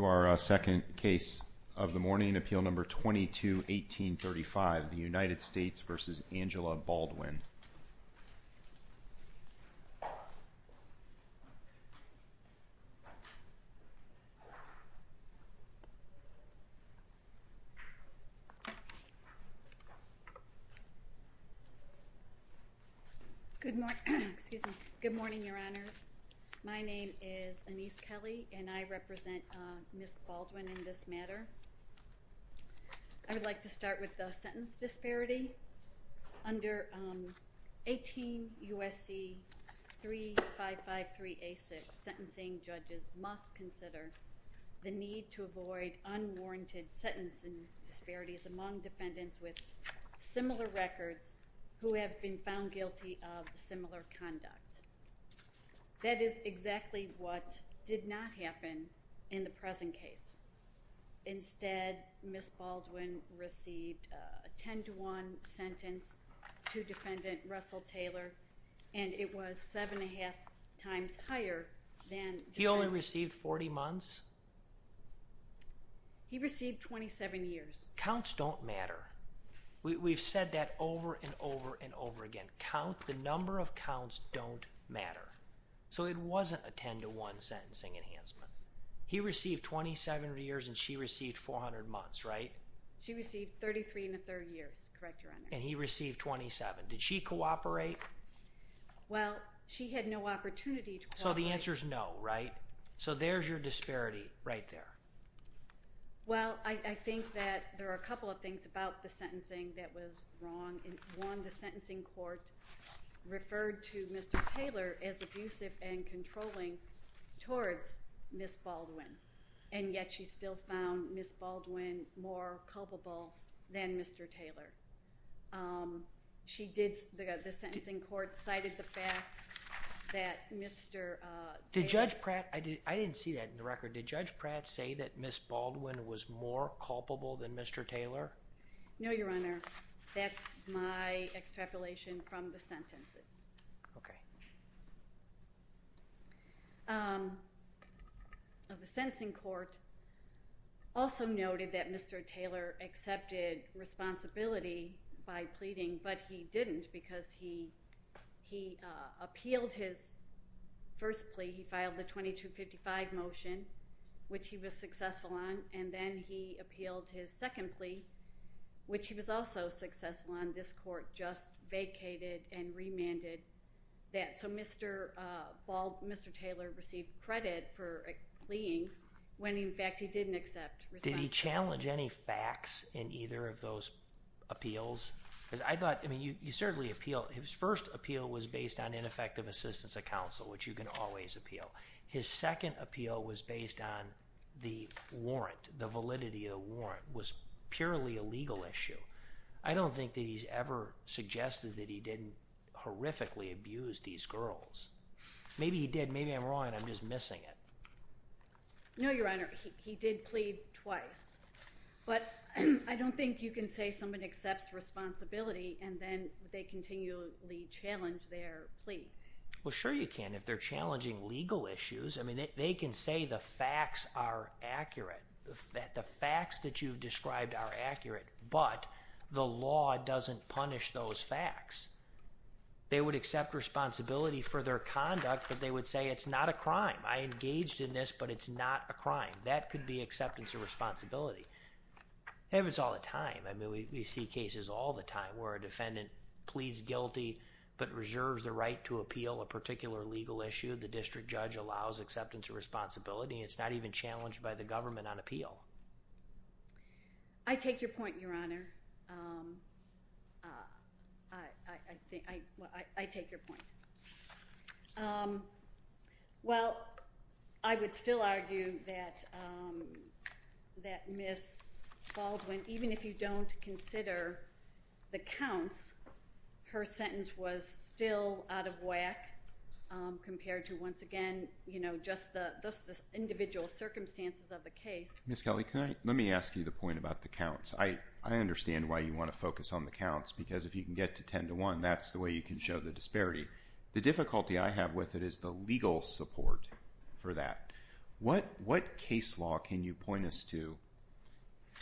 To our second case of the morning, Appeal No. 22-1835, the United States v. Angela Baldwin. Good morning, Your Honors. My name is Anise Kelly, and I represent Ms. Baldwin in this matter. I would like to start with the sentence disparity. Under 18 U.S.C. 3553A6, sentencing judges must consider the need to avoid unwarranted sentencing disparities among defendants with similar records who have been found guilty of similar conduct. That is exactly what did not happen in the present case. Instead, Ms. Baldwin received a 10-to-1 sentence to defendant Russell Taylor, and it was 7.5 times higher than... He only received 40 months? He received 27 years. Counts don't matter. We've said that over and over and over again. The number of counts don't matter. So it wasn't a 10-to-1 sentencing enhancement. He received 27 years, and she received 400 months, right? She received 33 and a third years, correct, Your Honor. And he received 27. Did she cooperate? Well, she had no opportunity to cooperate. So the answer is no, right? So there's your disparity right there. Well, I think that there are a couple of things about the sentencing that was wrong. One, the sentencing court referred to Mr. Taylor as abusive and controlling towards Ms. Baldwin, and yet she still found Ms. Baldwin more culpable than Mr. Taylor. The sentencing court cited the fact that Mr. Taylor... Did Judge Pratt—I didn't see that in the record. Did Judge Pratt say that Ms. Baldwin was more culpable than Mr. Taylor? No, Your Honor. That's my extrapolation from the sentences. Okay. The sentencing court also noted that Mr. Taylor accepted responsibility by pleading, but he didn't because he appealed his first plea. He filed the 2255 motion, which he was successful on, and then he appealed his second plea, which he was also successful on. This court just vacated and remanded that. So Mr. Taylor received credit for pleading when, in fact, he didn't accept responsibility. Did he challenge any facts in either of those appeals? Because I thought—I mean, you certainly appeal. His first appeal was based on ineffective assistance of counsel, which you can always appeal. His second appeal was based on the warrant, the validity of the warrant. It was purely a legal issue. I don't think that he's ever suggested that he didn't horrifically abuse these girls. Maybe he did. Maybe I'm wrong and I'm just missing it. No, Your Honor, he did plead twice. But I don't think you can say someone accepts responsibility and then they continually challenge their plea. Well, sure you can if they're challenging legal issues. I mean, they can say the facts are accurate, that the facts that you've described are accurate, but the law doesn't punish those facts. They would accept responsibility for their conduct, but they would say it's not a crime. I engaged in this, but it's not a crime. That could be acceptance of responsibility. It happens all the time. I mean, we see cases all the time where a defendant pleads guilty but reserves the right to appeal a particular legal issue. The district judge allows acceptance of responsibility. It's not even challenged by the government on appeal. I take your point, Your Honor. I take your point. Well, I would still argue that Ms. Baldwin, even if you don't consider the counts, her sentence was still out of whack compared to, once again, just the individual circumstances of the case. Ms. Kelly, let me ask you the point about the counts. I understand why you want to focus on the counts because if you can get to 10 to 1, that's the way you can show the disparity. The difficulty I have with it is the legal support for that. What case law can you point us to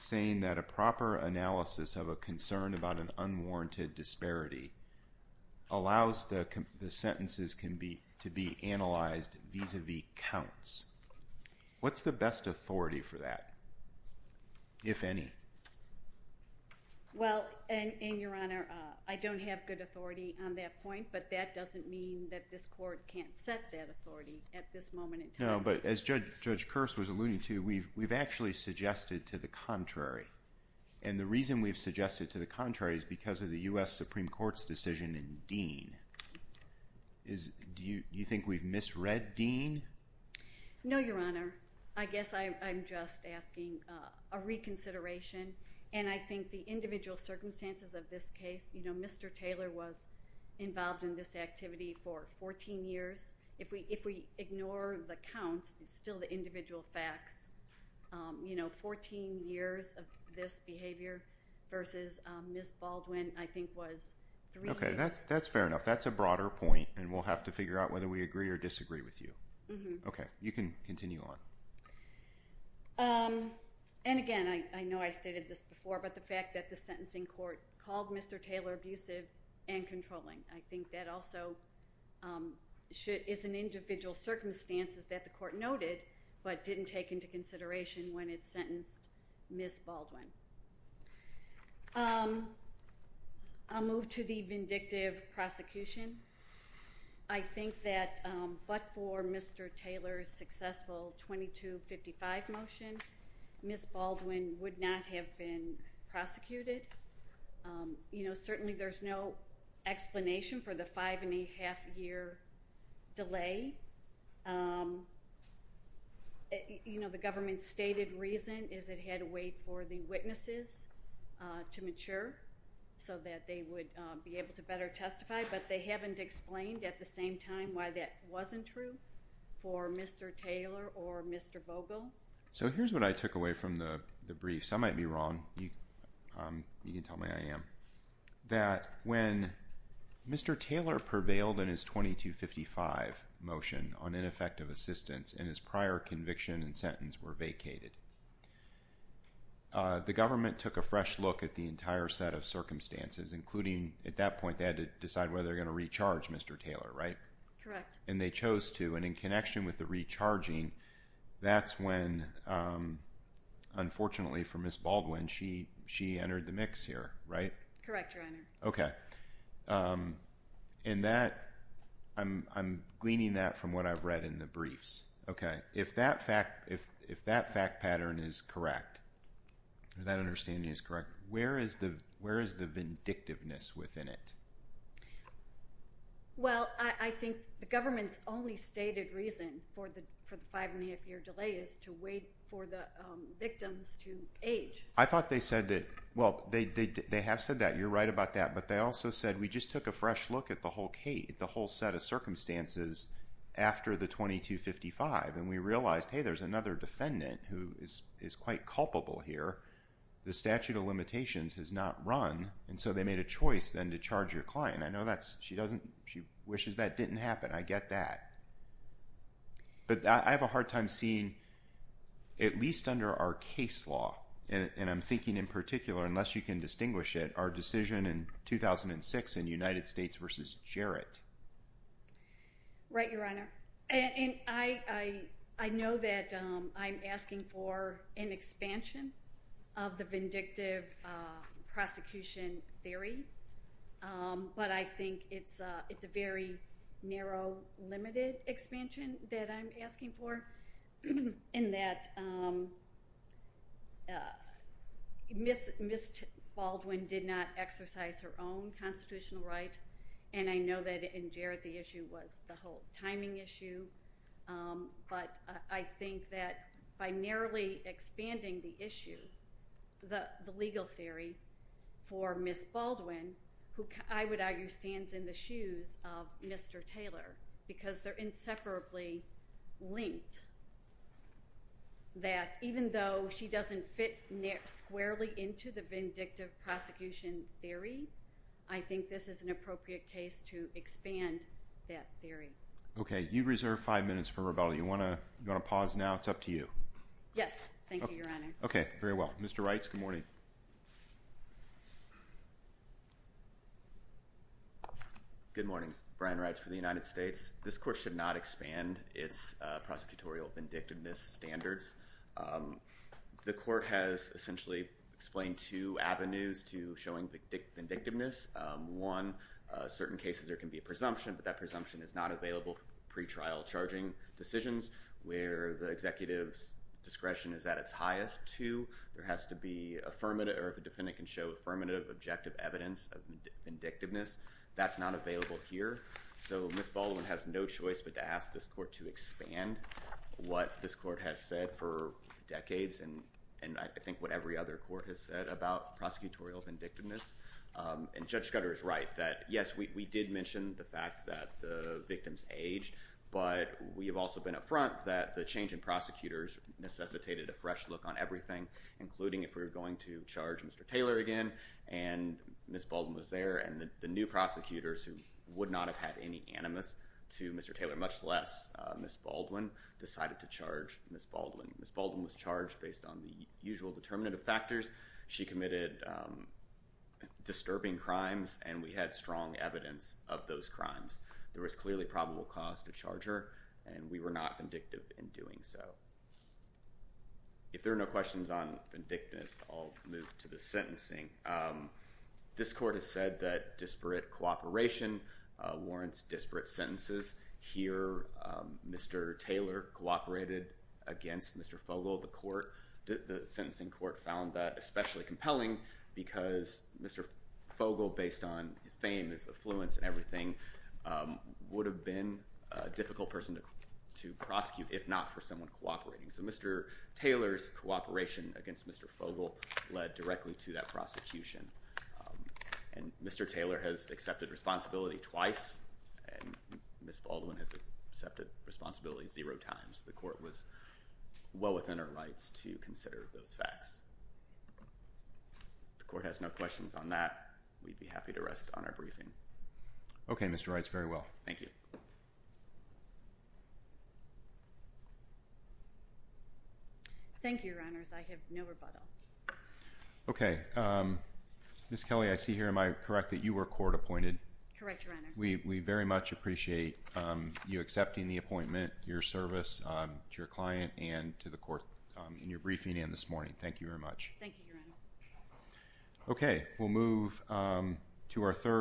saying that a proper analysis of a concern about an unwarranted disparity allows the sentences to be analyzed vis-à-vis counts? What's the best authority for that, if any? Well, and, Your Honor, I don't have good authority on that point, but that doesn't mean that this court can't set that authority at this moment in time. No, but as Judge Kearse was alluding to, we've actually suggested to the contrary. And the reason we've suggested to the contrary is because of the U.S. Supreme Court's decision in Dean. Do you think we've misread Dean? No, Your Honor. I guess I'm just asking a reconsideration, and I think the individual circumstances of this case, you know, Mr. Taylor was involved in this activity for 14 years. If we ignore the counts, it's still the individual facts. You know, 14 years of this behavior versus Ms. Baldwin, I think, was three years. Okay, that's fair enough. That's a broader point, and we'll have to figure out whether we agree or disagree with you. Okay, you can continue on. And, again, I know I stated this before, but the fact that the sentencing court called Mr. Taylor abusive and controlling, I think that also is an individual circumstances that the court noted but didn't take into consideration when it sentenced Ms. Baldwin. I'll move to the vindictive prosecution. I think that but for Mr. Taylor's successful 2255 motion, Ms. Baldwin would not have been prosecuted. You know, certainly there's no explanation for the five-and-a-half-year delay. You know, the government's stated reason is it had to wait for the witnesses to mature so that they would be able to better testify, but they haven't explained at the same time why that wasn't true for Mr. Taylor or Mr. Vogel. So here's what I took away from the briefs. I might be wrong. You can tell me I am. That when Mr. Taylor prevailed in his 2255 motion on ineffective assistance and his prior conviction and sentence were vacated, the government took a fresh look at the entire set of circumstances, including at that point they had to decide whether they were going to recharge Mr. Taylor, right? Correct. And they chose to, and in connection with the recharging, that's when, unfortunately for Ms. Baldwin, she entered the mix here, right? Correct, Your Honor. Okay. And that, I'm gleaning that from what I've read in the briefs. Okay. If that fact pattern is correct, that understanding is correct, where is the vindictiveness within it? Well, I think the government's only stated reason for the five-and-a-half-year delay is to wait for the victims to age. I thought they said that, well, they have said that. You're right about that. But they also said we just took a fresh look at the whole set of circumstances after the 2255, and we realized, hey, there's another defendant who is quite culpable here. The statute of limitations has not run, and so they made a choice then to charge your client. I know she wishes that didn't happen. I get that. But I have a hard time seeing, at least under our case law, and I'm thinking in particular, unless you can distinguish it, our decision in 2006 in United States v. Jarrett. Right, Your Honor. And I know that I'm asking for an expansion of the vindictive prosecution theory, but I think it's a very narrow, limited expansion that I'm asking for, in that Ms. Baldwin did not exercise her own constitutional right, and I know that in Jarrett the issue was the whole timing issue. But I think that by narrowly expanding the issue, the legal theory for Ms. Baldwin, who I would argue stands in the shoes of Mr. Taylor, because they're inseparably linked, that even though she doesn't fit squarely into the vindictive prosecution theory, I think this is an appropriate case to expand that theory. Okay. You reserve five minutes for rebuttal. You want to pause now? It's up to you. Yes. Thank you, Your Honor. Okay. Very well. Mr. Reitz, good morning. Good morning. Brian Reitz for the United States. This court should not expand its prosecutorial vindictiveness standards. The court has essentially explained two avenues to showing vindictiveness. One, certain cases there can be a presumption, but that presumption is not available for pretrial charging decisions, where the executive's discretion is at its highest. Two, there has to be affirmative or the defendant can show affirmative objective evidence of vindictiveness. That's not available here. So Ms. Baldwin has no choice but to ask this court to expand what this court has said for decades and I think what every other court has said about prosecutorial vindictiveness. And Judge Scudder is right that, yes, we did mention the fact that the victims aged, but we have also been up front that the change in prosecutors necessitated a fresh look on everything, including if we were going to charge Mr. Taylor again and Ms. Baldwin was there and the new prosecutors who would not have had any animus to Mr. Taylor, much less Ms. Baldwin, decided to charge Ms. Baldwin. Ms. Baldwin was charged based on the usual determinative factors. She committed disturbing crimes and we had strong evidence of those crimes. There was clearly probable cause to charge her and we were not vindictive in doing so. If there are no questions on vindictiveness, I'll move to the sentencing. This court has said that disparate cooperation warrants disparate sentences. Here, Mr. Taylor cooperated against Mr. Fogle. The court, the sentencing court, found that especially compelling because Mr. Fogle, based on his fame, his affluence and everything, would have been a difficult person to prosecute if not for someone cooperating. So Mr. Taylor's cooperation against Mr. Fogle led directly to that prosecution. And Mr. Taylor has accepted responsibility twice and Ms. Baldwin has accepted responsibility zero times. The court was well within our rights to consider those facts. If the court has no questions on that, we'd be happy to rest on our briefing. Okay, Mr. Wrights, very well. Thank you. Thank you, Your Honors. I have no rebuttal. Okay, Ms. Kelly, I see here, am I correct, that you were court appointed? Correct, Your Honor. We very much appreciate you accepting the appointment, your service to your client and to the court in your briefing and this morning. Thank you very much. Thank you, Your Honor. Okay, we'll move to our third.